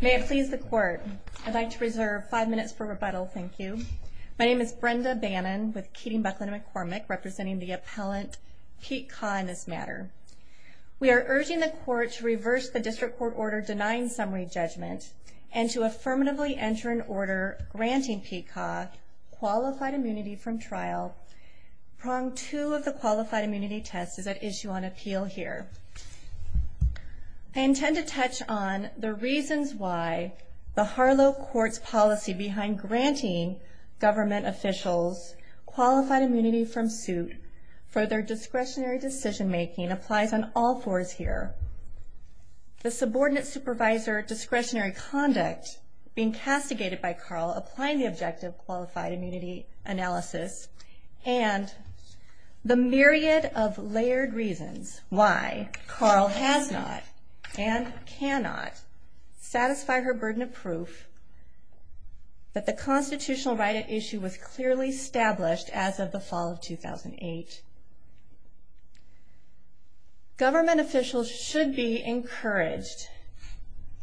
May it please the Court, I'd like to reserve five minutes for rebuttal, thank you. My name is Brenda Bannon with Keating Buckland McCormick, representing the appellant Pete Kaa in this matter. We are urging the Court to reverse the District Court order denying summary judgment and to affirmatively enter an order granting Pete Kaa qualified immunity from trial. Prong 2 of the Qualified Immunity Test is at issue on appeal here. I intend to touch on the reasons why the Harlow Court's policy behind granting government officials qualified immunity from suit for their discretionary decision making applies on all fours here. The subordinate supervisor discretionary conduct being castigated by Karl applying the objective Qualified Immunity Analysis and the myriad of layered reasons why Karl has not and cannot satisfy her burden of proof that the constitutional right at issue was clearly established as of the fall of 2008. Government officials should be encouraged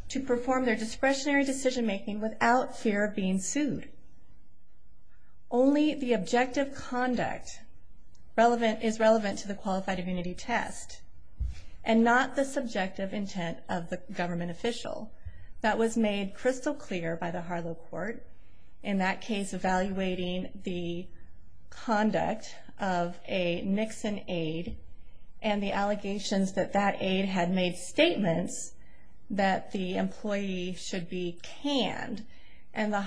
to perform their discretionary decision making without fear of being sued. Only the objective conduct is relevant to the Qualified Immunity Test and not the subjective intent of the government official. That was made crystal clear by the Harlow Court in that case evaluating the conduct of a Nixon aide and the allegations that that aide had made statements that the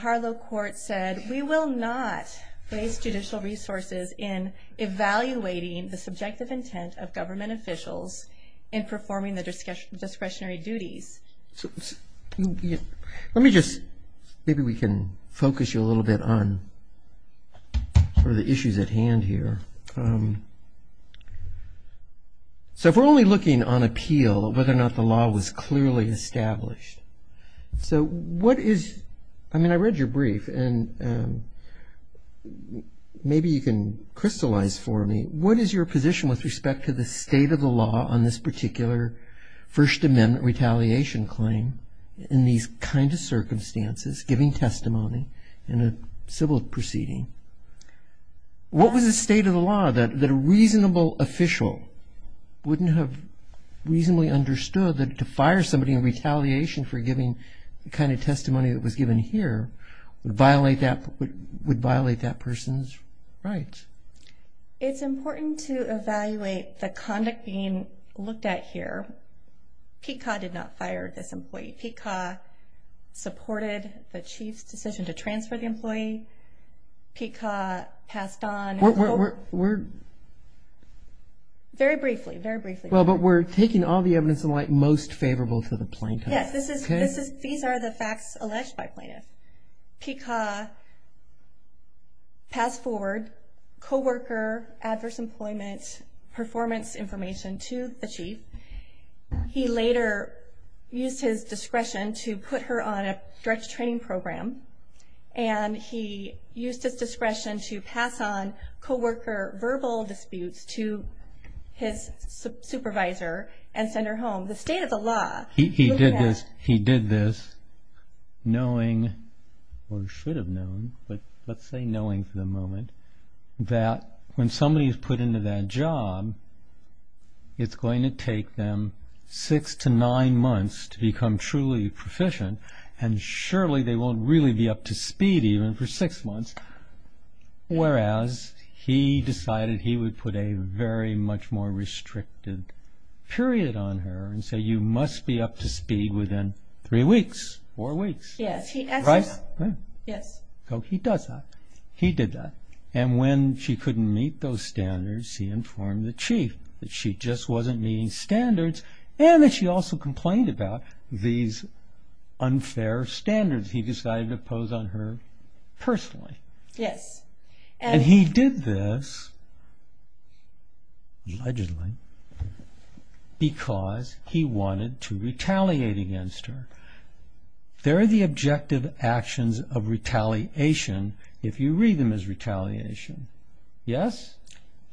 Harlow Court said we will not place judicial resources in evaluating the subjective intent of government officials in performing the discretionary duties. Let me just maybe we can focus you a little bit on the issues at hand here. So if we're only looking on appeal whether or not the law was clearly established. So what is I mean I read your brief and maybe you can crystallize for me what is your position with respect to the state of the law on this particular First Amendment retaliation claim in these kind of circumstances giving testimony in a civil proceeding. What was the state of the law that a reasonable official wouldn't have reasonably understood that to fire somebody in retaliation for giving the kind of testimony that was given here would violate that person's rights. It's important to evaluate the conduct being looked at here. PCA did not fire this employee. PCA supported the chief's decision to transfer the employee. PCA passed on. We're very briefly very briefly. But we're taking all the evidence in light most favorable to the plaintiff. These are the facts alleged by plaintiff. PCA passed forward co-worker adverse employment performance information to the chief. He later used his discretion to put her on a direct training program and he used his discretion to pass on co-worker verbal disputes to his supervisor and send her home. The state of the law. He did this he did this knowing or should have known but let's say knowing for the moment that when somebody is put into that job it's going to take them six to nine months to become truly proficient and surely they won't really be up to speed even for six months whereas he decided he would put a very much more restricted period on her and say you must be up to speed within three weeks or weeks. Yes. So he does that. He did that. And when she couldn't meet those standards he informed the chief that she just wasn't meeting standards and that she also complained about these unfair standards. He decided to pose on her personally. Yes. And he did this allegedly because he wanted to retaliate against her. There are the objective actions of retaliation if you read them as retaliation. Yes.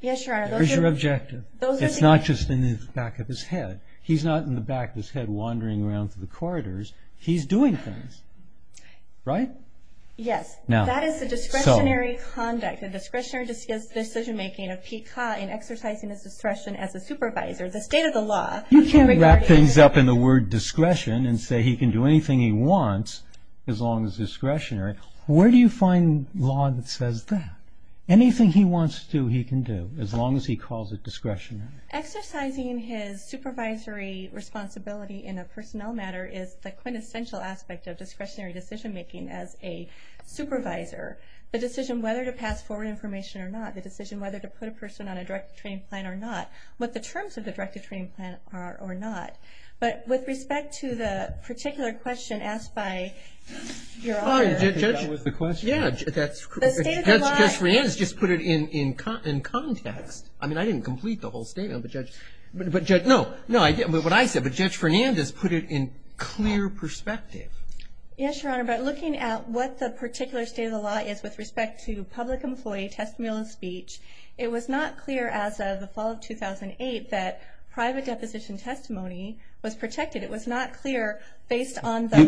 Yes your honor. There's your objective. It's not just in the back of his head. He's not in the back of his head wandering around through the corridors. He's doing things. Right. Yes. Now that is the discretionary conduct. The discretionary decision making of PCA in exercising his discretion as a supervisor. The state of the law. You can't wrap things up in the word discretion and say he can do anything he wants as long as discretionary. Where do you find law that says that? Anything he wants to he can do as long as he calls it discretionary. Exercising his supervisory responsibility in a personnel matter is the quintessential aspect of discretionary decision making as a supervisor. The decision whether to pass forward information or not. The decision whether to put a person on a directed training plan or not. But with respect to the particular question asked by your honor. I think that was the question. Judge Fernandes just put it in context. I mean I didn't complete the whole statement. But Judge. No. What I said. But Judge Fernandes put it in clear perspective. Yes your honor. But looking at what the particular state of the law is with respect to public employee testimonial speech. It was not clear as of the fall of 2008 that private deposition testimony was protected. It was not clear based on the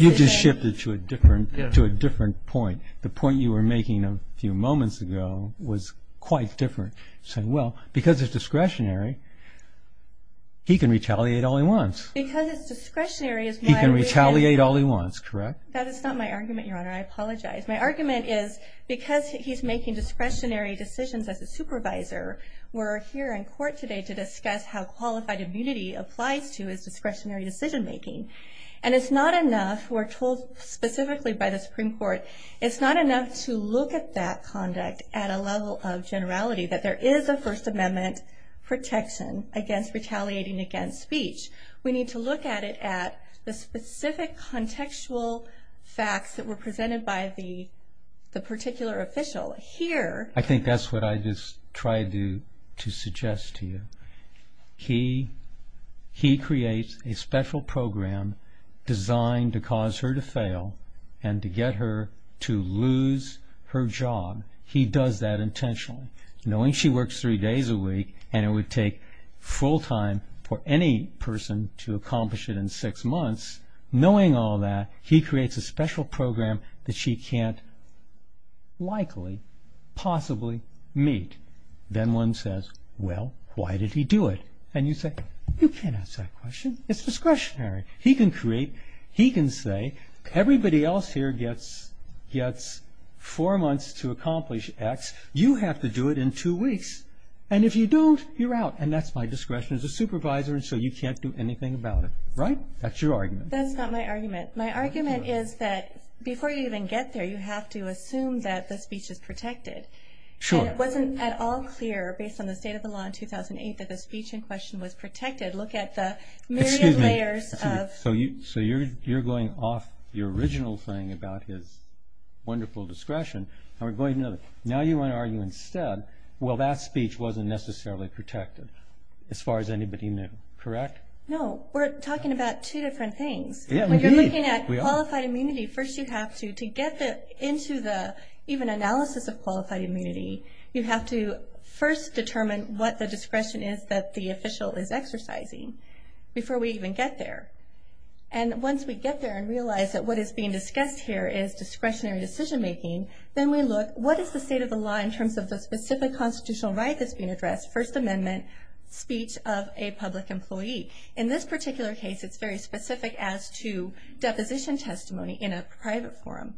You just shifted to a different point. The point you were making a few moments ago was quite different. Because it's discretionary. He can retaliate all he wants. Because it's discretionary. He can retaliate all he wants. Correct. That is not my argument your honor. I apologize. My argument is because he's making discretionary decisions as a supervisor. We're here in court today to discuss how qualified immunity applies to his discretionary decision making. And it's not enough. We're told specifically by the Supreme Court. It's not enough to look at that conduct at a level of generality. That there is a First Amendment protection against retaliating against speech. We need to look at it at the specific contextual facts that were presented by the particular official here. I think that's what I just tried to suggest to you. He creates a special program designed to cause her to fail and to get her to lose her job. He does that for any person to accomplish it in six months. Knowing all that, he creates a special program that she can't likely, possibly meet. Then one says, well, why did he do it? And you say, you can't ask that question. It's discretionary. He can create, he can say everybody else here gets four months to accomplish X. You have to do it in two weeks. And if you don't, you're out. And that's my discretion as a supervisor. And so you can't do anything about it. Right? That's your argument. That's not my argument. My argument is that before you even get there, you have to assume that the speech is protected. Sure. It wasn't at all clear based on the state of the law in 2008 that the speech in question was protected. Look at the myriad layers of. So you're going off the original thing about his wonderful discretion. Now you want to argue instead, well, that speech wasn't necessarily protected as far as anybody knew. Correct? No. We're talking about two different things. When you're looking at qualified immunity, first you have to get into the even analysis of qualified immunity. You have to first determine what the discretion is that the official is being discussed here is discretionary decision making. Then we look, what is the state of the law in terms of the specific constitutional right that's being addressed? First Amendment speech of a public employee. In this particular case, it's very specific as to deposition testimony in a private forum.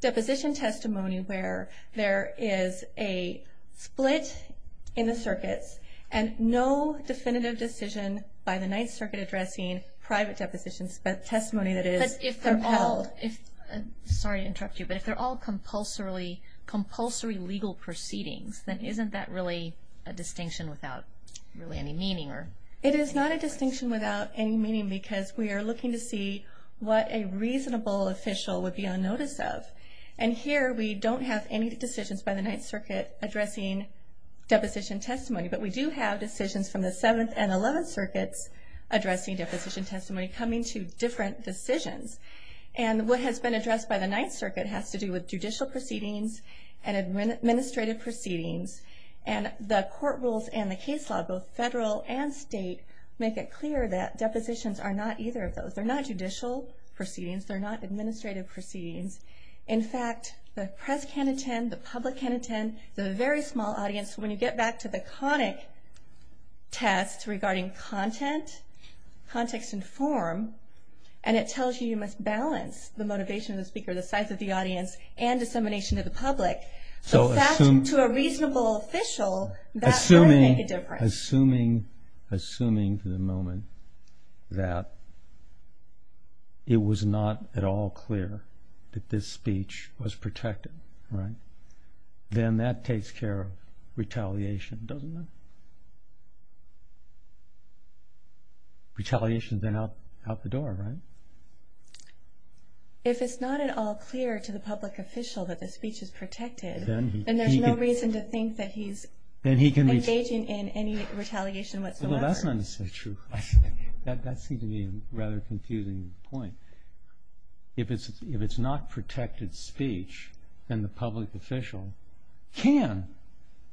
Deposition testimony where there is a split in the circuits and no definitive decision by the Ninth Circuit addressing private deposition testimony that is compelled. Sorry to interrupt you, but if they're all compulsory legal proceedings, then isn't that really a distinction without really any meaning? It is not a distinction without any meaning because we are looking to see what a reasonable official would be on notice of. And here we don't have any decisions by the Ninth Circuit addressing deposition testimony, but we do have decisions from the Seventh and Eleventh Circuits addressing deposition testimony coming to different decisions. What has been addressed by the Ninth Circuit has to do with judicial proceedings and administrative proceedings. The court rules and the case law, both federal and state, make it clear that depositions are not either of those. They're not judicial proceedings. They're not the very small audience. When you get back to the conic test regarding content, context, and form, and it tells you you must balance the motivation of the speaker, the size of the audience, and dissemination to the public, to a reasonable official, that might make a difference. Assuming for the moment that it was not at all clear that this speech was protected, then that takes care of retaliation, doesn't it? Retaliation is then out the door, right? If it's not at all clear to the public official that the speech is protected, then there's no reason to think that he's engaging in any retaliation whatsoever. That's not necessarily true. That seems to be a rather confusing point. If it's not protected speech, then the public official can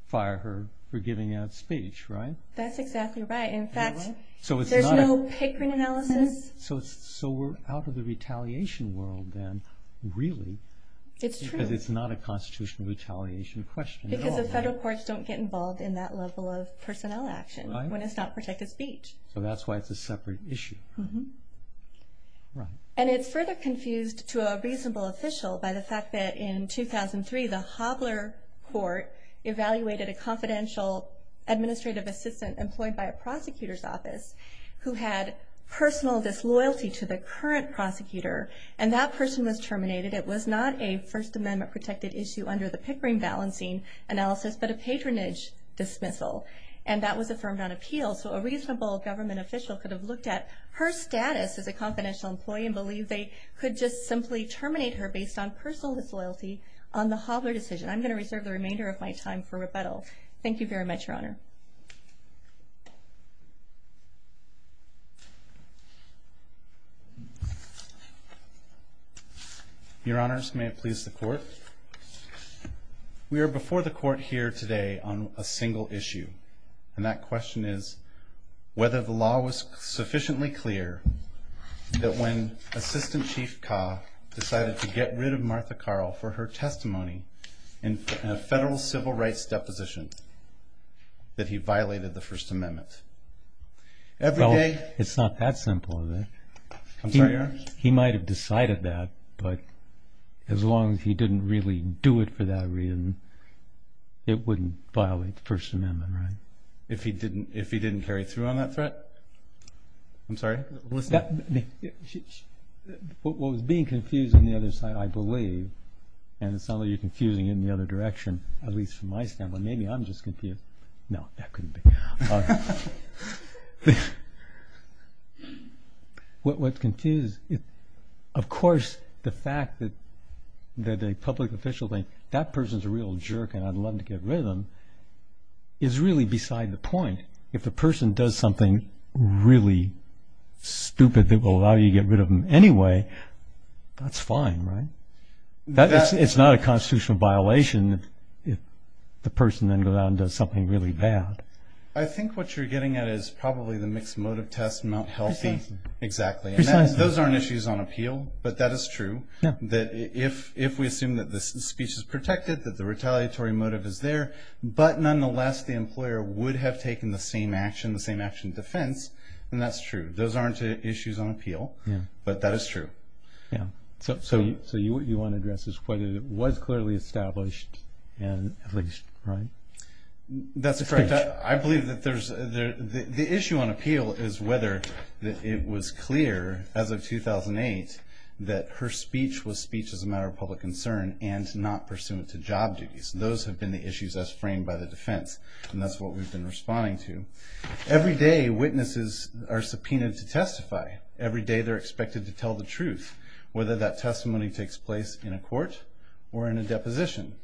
fire her for giving out speech, right? That's exactly right. In fact, there's no patron analysis. So we're out of the retaliation world then, really. It's true. Because it's not a constitutional retaliation question at all. Because the federal courts don't get involved in that level of personnel action when it's not protected speech. So that's why it's a separate issue. And it's further confused to a reasonable official by the fact that in 2003 the Hobbler Court evaluated a confidential administrative assistant employed by a prosecutor's office who had personal disloyalty to the current prosecutor. And that person was terminated. It was not a First Amendment protected issue under the Pickering balancing analysis, but a patronage dismissal. And that was affirmed on appeal. So a reasonable government official could have looked at her status as a confidential employee and believed they could just simply terminate her based on personal disloyalty on the Hobbler decision. I'm going to reserve the remainder of my time for rebuttal. Thank you very much, Your Honor. Your Honors, may it please the Court. We are before the Court here today on a single issue. And that question is whether the law was sufficiently clear that when Assistant Chief Kaa decided to get rid of Martha Carl for her testimony in a federal civil rights deposition, that he violated the First Amendment. Well, it's not that simple, is it? He might have decided that, but as long as he didn't really do it for that reason, it wouldn't violate the First Amendment, right? If he didn't carry through on that threat? What was being confused on the other side, I believe, and it sounds like you're confusing it in the other direction, at least from my standpoint. Maybe I'm just confused. No, that couldn't be. What's confused, of course, the fact that the public official thinks, is really beside the point. If the person does something really stupid that will allow you to get rid of them anyway, that's fine, right? It's not a constitutional violation if the person then goes out and does something really bad. I think what you're getting at is probably the mixed motive test, not healthy. Those aren't issues on appeal, but that is true. If we assume that the speech is protected, that the retaliatory motive is there, but nonetheless the employer would have taken the same action, the same action of defense, then that's true. Those aren't issues on appeal, but that is true. So what you want to address is whether it was clearly established, at least, right? That's correct. I believe that the issue on appeal is whether it was clear as of 2008 that her speech was speech as a matter of public concern and not pursuant to job duties. Those have been the issues as framed by the defense, and that's what we've been responding to. Every day witnesses are subpoenaed to testify. Every day they're expected to tell the truth, whether that testimony takes place in a court or in a deposition.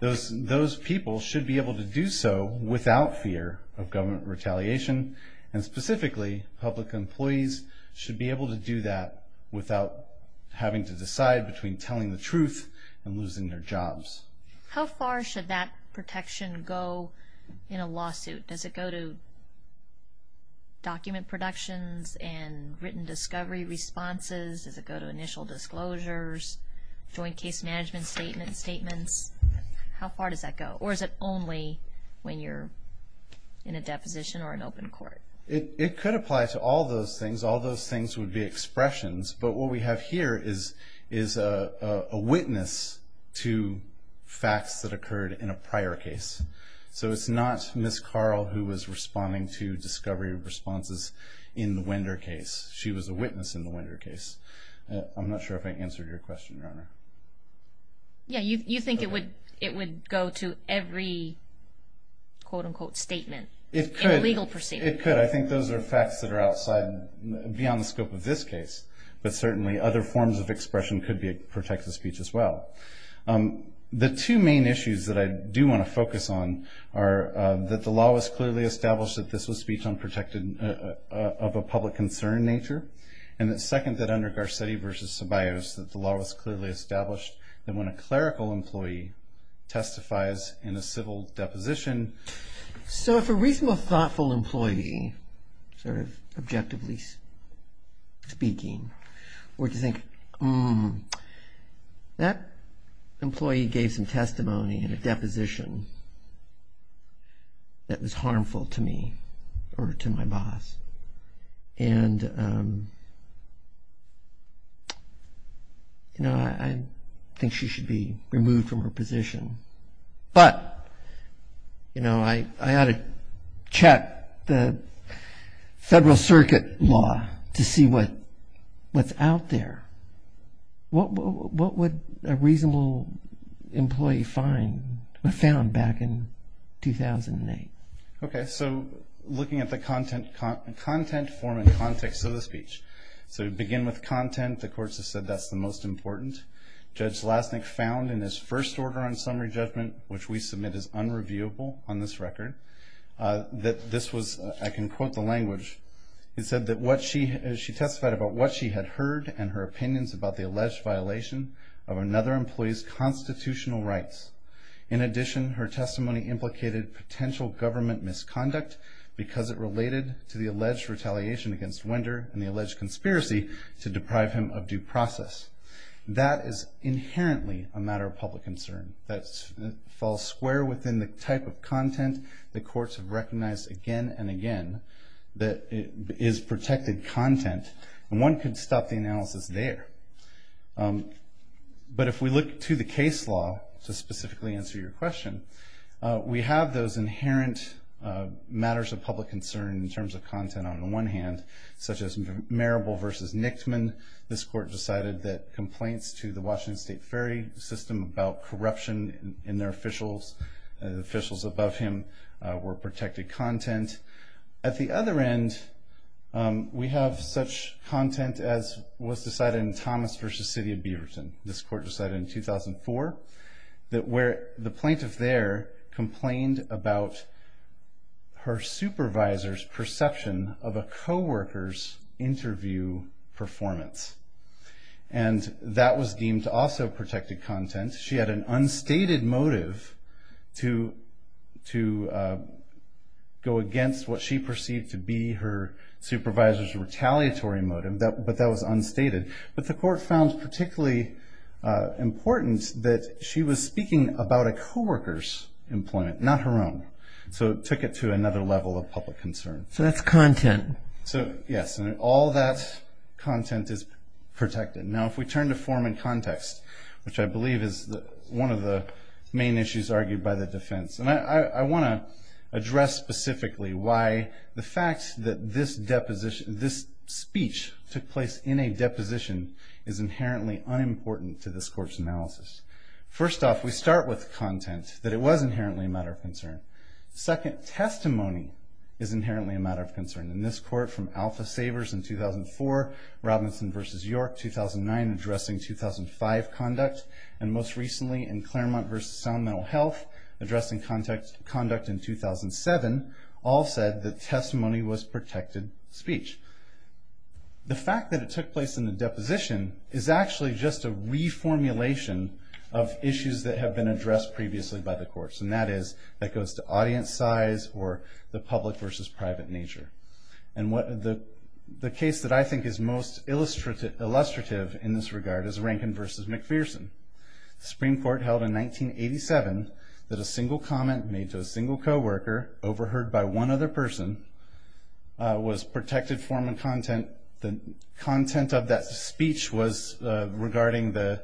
Those people should be able to do so without fear of government retaliation, and specifically public employees should be able to do that without having to decide between telling the truth and losing their jobs. How far should that protection go in a lawsuit? Does it go to document productions and written discovery responses? Does it go to initial disclosures, joint case management statements? How far does that go, or is it only when you're in a deposition or an open court? It could apply to all those things. All those things would be expressions, but what we have here is a witness to facts that occurred in a prior case. So it's not Ms. Carl who was responding to discovery responses in the Wender case. She was a witness in the Wender case. I'm not sure if I answered your question, Your Honor. Yeah, you think it would go to every quote-unquote statement in a legal proceeding. It could. I think those are facts that are outside, beyond the scope of this case, but certainly other forms of expression could protect the speech as well. The two main issues that I do want to focus on are that the law was clearly established that this was speech of a public concern in nature, and that second, that under Garcetti v. Ceballos, that the law was clearly established that when a clerical employee testifies in a civil deposition... That employee gave some testimony in a deposition that was harmful to me or to my boss, and I think she should be removed from her position. But I ought to check the Federal Circuit law to see what I can do about what's out there. What would a reasonable employee find or found back in 2008? Okay, so looking at the content form and context of the speech. So to begin with content, the courts have said that's the most important. Judge Lasnik found in his first order on summary judgment, which we submit as unreviewable on this record, that this was, I can quote the language, she testified about what she had heard and her opinions about the alleged violation of another employee's constitutional rights. In addition, her testimony implicated potential government misconduct because it related to the alleged retaliation against Wender and the alleged conspiracy to deprive him of due process. That is inherently a matter of public concern. That falls square within the type of content the courts have recognized again and again that is protected content, and one could stop the analysis there. But if we look to the case law to specifically answer your question, we have those inherent matters of public concern in terms of content on the one hand, such as Marable v. Nixman. This court decided that complaints to the Washington State Ferry System about corruption in their officials, officials above him, were protected content. At the other end, we have such content as was decided in Thomas v. City of Beaverton. This court decided in 2004 that where the plaintiff there complained about her supervisor's perception of a co-worker's interview performance, and that was deemed also protected content. She had an unstated motive to go against what she perceived to be her supervisor's retaliatory motive, but that was unstated. But the court found particularly important that she was speaking about a co-worker's employment, not her own. So it took it to another level of public concern. All that content is protected. Now if we turn to form and context, which I believe is one of the main issues argued by the defense, and I want to address specifically why the fact that this speech took place in a deposition First off, we start with the content, that it was inherently a matter of concern. Second, testimony is inherently a matter of concern. In this court, from Alpha Savers in 2004, Robinson v. York 2009, addressing 2005 conduct, and most recently in Claremont v. Sound Mental Health, addressing conduct in 2007, all said that testimony was protected speech. The fact that it took place in a deposition is actually just a reformulation of issues that have been addressed previously by the courts, and that is that goes to audience size or the public versus private nature. And the case that I think is most illustrative in this regard is Rankin v. McPherson. The Supreme Court held in 1987 that a single comment made to a single co-worker, overheard by one other person, was protected form and content. The content of that speech was regarding the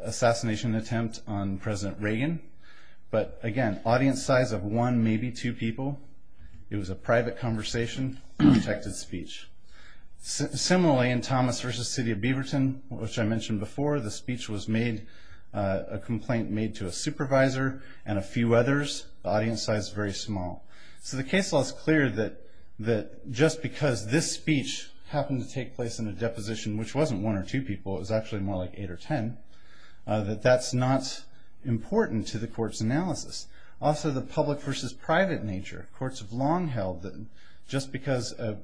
assassination attempt on President Reagan, but again, audience size of one, maybe two people, it was a private conversation, protected speech. Similarly, in Thomas v. City of Beaverton, which I mentioned before, the speech was made, a complaint made to a supervisor and a few others, audience size very small. So the case law is clear that just because this speech happened to take place in a deposition, which wasn't one or two people, it was actually more like eight or ten, also the public versus private nature. Courts have long held that just because an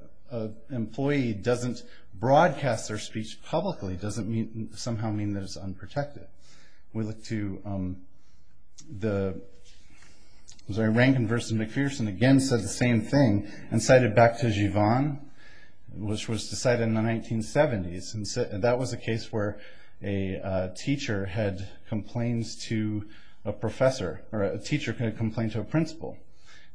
employee doesn't broadcast their speech publicly doesn't somehow mean that it's unprotected. Rankin v. McPherson again said the same thing and cited Baptist-Given, which was decided in the 1970s. And that was a case where a teacher had complaints to a professor, or a teacher could have complained to a principal.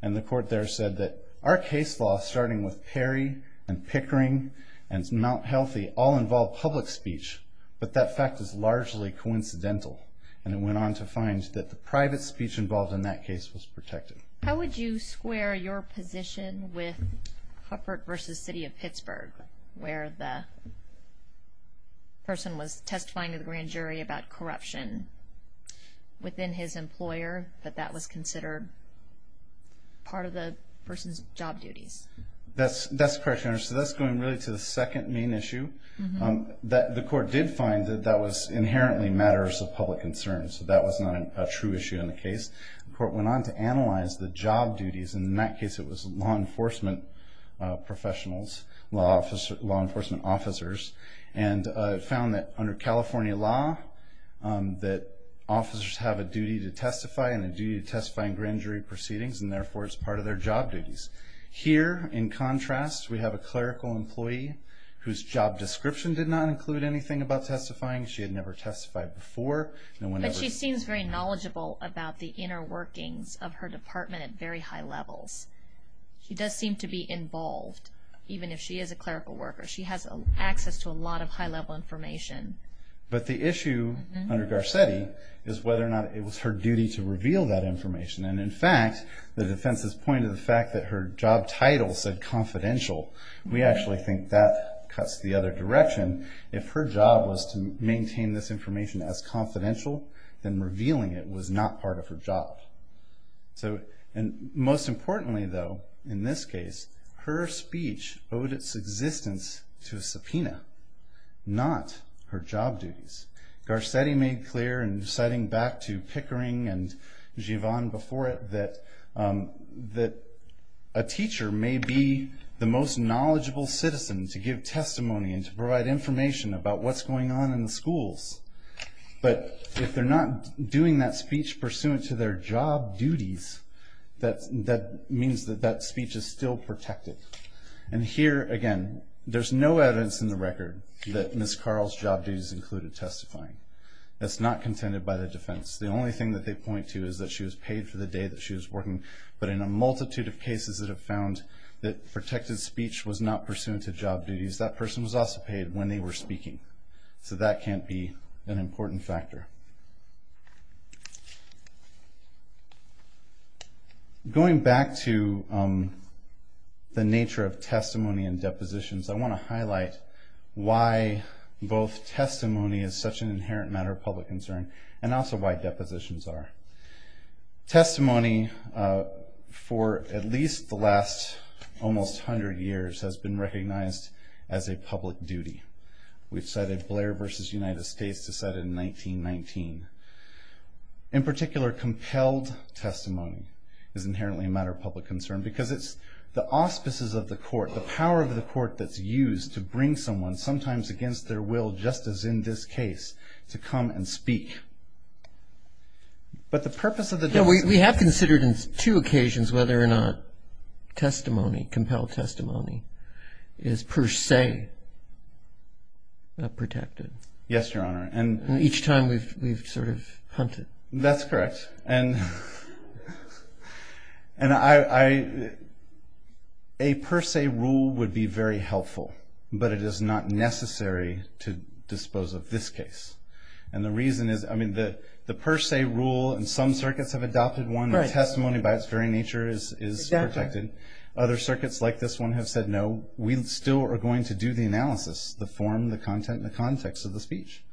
And the court there said that our case law, starting with Perry and Pickering and Mount Healthy, all involved public speech, but that fact is largely coincidental. And it went on to find that the private speech involved in that case was protected. How would you square your position with Hufford v. City of Pittsburgh, where the person was testifying to the grand jury about corruption within his employer, but that was considered part of the person's job duties? That's correct, Your Honor. So that's going really to the second main issue. The court did find that that was inherently matters of public concern, so that was not a true issue in the case. The court went on to analyze the job duties, and in that case it was law enforcement professionals, law enforcement officers, and found that under California law, that officers have a duty to testify and a duty to testify in grand jury proceedings, and therefore it's part of their job duties. Here, in contrast, we have a clerical employee whose job description did not include anything about testifying. She had never testified before. But she seems very knowledgeable about the inner workings of her department at very high levels. She does seem to be involved, even if she is a clerical worker. She has access to a lot of high-level information. But the issue under Garcetti is whether or not it was her duty to reveal that information. And in fact, the defense's point of the fact that her job title said confidential, we actually think that cuts the other direction. If her job was to maintain this information as confidential, then revealing it was not part of her job. Most importantly, though, in this case, her speech owed its existence to a subpoena, not her job duties. Garcetti made clear, and citing back to Pickering and Givan before it, that a teacher may be the most knowledgeable citizen to give testimony and to provide information about what's going on in the schools. But if they're not doing that speech pursuant to their job duties, that means that that speech is still protected. And here, again, there's no evidence in the record that Ms. Carl's job duties included testifying. That's not contended by the defense. The only thing that they point to is that she was paid for the day that she was working. But in a multitude of cases that have found that protected speech was not pursuant to job duties, that person was also paid when they were speaking. So that can't be an important factor. Going back to the nature of testimony and depositions, I want to highlight why both testimony is such an inherent matter of public concern, and also why depositions are. Testimony, for at least the last almost hundred years, has been recognized as a public duty. We've cited Blair v. United States, decided in 1919. In particular, compelled testimony is inherently a matter of public concern because it's the auspices of the court, the power of the court that's used to bring someone, sometimes against their will, just as in this case, to come and speak. But the purpose of the depositions... We have considered on two occasions whether or not testimony, compelled testimony, is per se protected. Yes, Your Honor. Each time we've sort of hunted. That's correct. A per se rule would be very helpful, but it is not necessary to dispose of this case. And the reason is, I mean, the per se rule, and some circuits have adopted one. Testimony by its very nature is protected. Other circuits, like this one, have said, no, we still are going to do the analysis, the form, the content, and the context of the speech.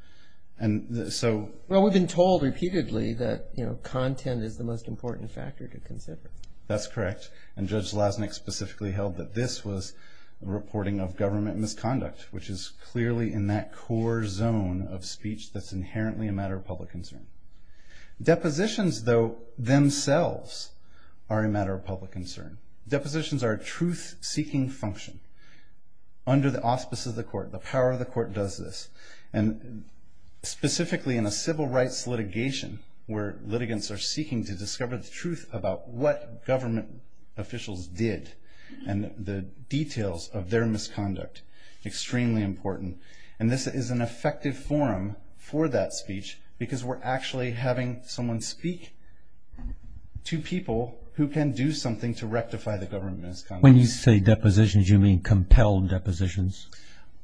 Well, we've been told repeatedly that content is the most important factor to consider. That's correct, and Judge Lasnik specifically held that this was reporting of government misconduct, which is clearly in that core zone of speech that's inherently a matter of public concern. Depositions, though, themselves are a matter of public concern. Depositions are a truth-seeking function under the auspices of the court. The power of the court does this, and specifically in a civil rights litigation where litigants are seeking to discover the truth about what government officials did and the details of their misconduct, extremely important. And this is an effective forum for that speech because we're actually having someone speak to people who can do something to rectify the government's misconduct. When you say depositions, you mean compelled depositions?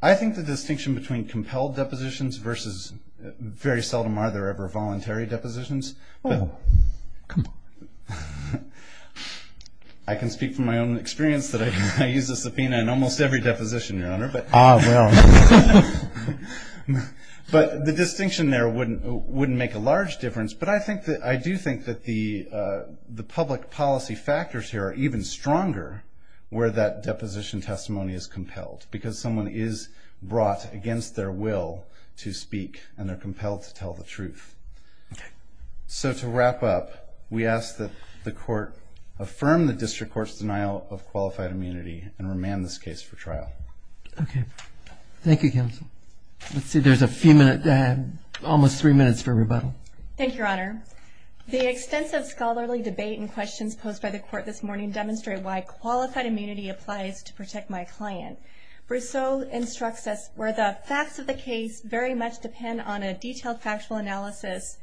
I think the distinction between compelled depositions versus very seldom are there ever voluntary depositions. I can speak from my own experience that I use a subpoena in almost every deposition, Your Honor. Ah, well. But the distinction there wouldn't make a large difference, but I do think that the public policy factors here are even stronger where that deposition testimony is compelled because someone is brought against their will to speak, and they're compelled to tell the truth. So to wrap up, we ask that the court affirm the district court's denial of qualified immunity and remand this case for trial. Thank you, counsel. Let's see, there's a few minutes, almost three minutes for rebuttal. Thank you, Your Honor. The extensive scholarly debate and questions posed by the court this morning demonstrate why qualified immunity applies to Protect My Client. Brousseau instructs us where the facts of the case very much depend on a detailed factual analysis,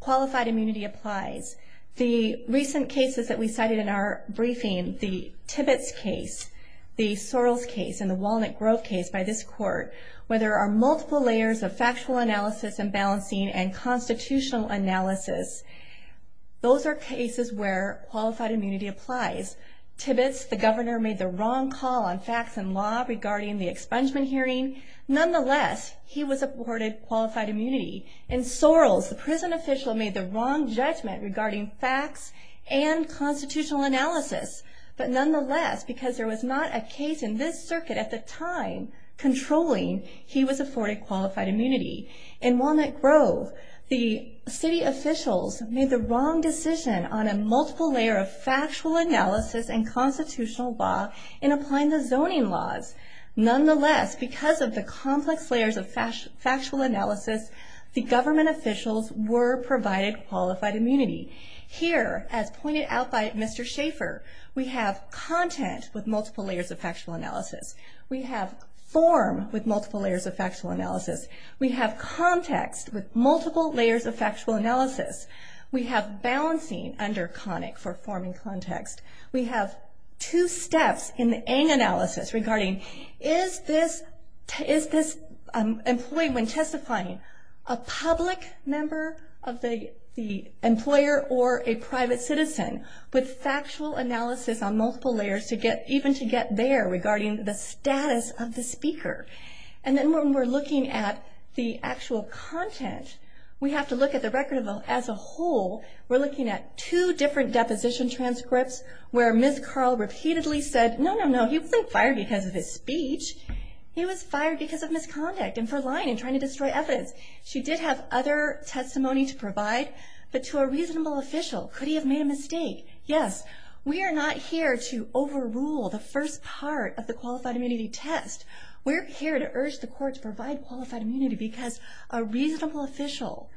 qualified immunity applies. The recent cases that we cited in our briefing, the Tibbetts case, the Sorrells case, and the Walnut Grove case by this court, where there are multiple layers of factual analysis and balancing and constitutional analysis, those are cases where qualified immunity applies. Tibbetts, the governor, made the wrong call on facts and law regarding the expungement hearing. Nonetheless, he was awarded qualified immunity. In Sorrells, the prison official made the wrong judgment regarding facts and constitutional analysis. But nonetheless, because there was not a case in this circuit at the time controlling, he was afforded qualified immunity. In Walnut Grove, the city officials made the wrong decision on a multiple layer of factual analysis and constitutional law in applying the zoning laws. Nonetheless, because of the complex layers of factual analysis, the government officials were provided qualified immunity. Here, as pointed out by Mr. Schaefer, we have content with multiple layers of factual analysis. We have form with multiple layers of factual analysis. We have context with multiple layers of factual analysis. We have balancing under conic for form and context. We have two steps in the ANG analysis regarding, is this employee when testifying a public member of the employer or a private citizen with factual analysis on multiple layers even to get there regarding the status of the speaker? And then when we're looking at the actual content, we have to look at the record as a whole. We're looking at two different deposition transcripts where Ms. Carl repeatedly said, no, no, no, he wasn't fired because of his speech. He was fired because of misconduct and for lying and trying to destroy evidence. She did have other testimony to provide, but to a reasonable official, could he have made a mistake? Yes, we are not here to overrule the first part of the qualified immunity test. We're here to urge the courts to provide qualified immunity because a reasonable official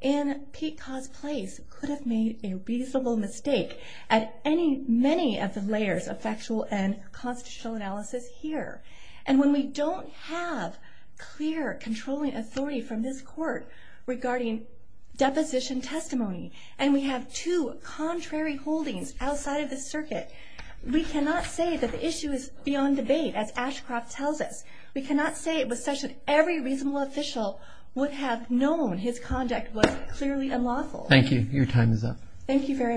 in Pete Ka's place could have made a reasonable mistake at any, many of the layers of factual and constitutional analysis here. And when we don't have clear controlling authority from this court regarding deposition testimony, and we have two contrary holdings outside of the circuit, we cannot say that the issue is beyond debate as Ashcroft tells us. We cannot say it was such that every reasonable official would have known his conduct was clearly unlawful. Thank you. Your time is up. Thank you very much.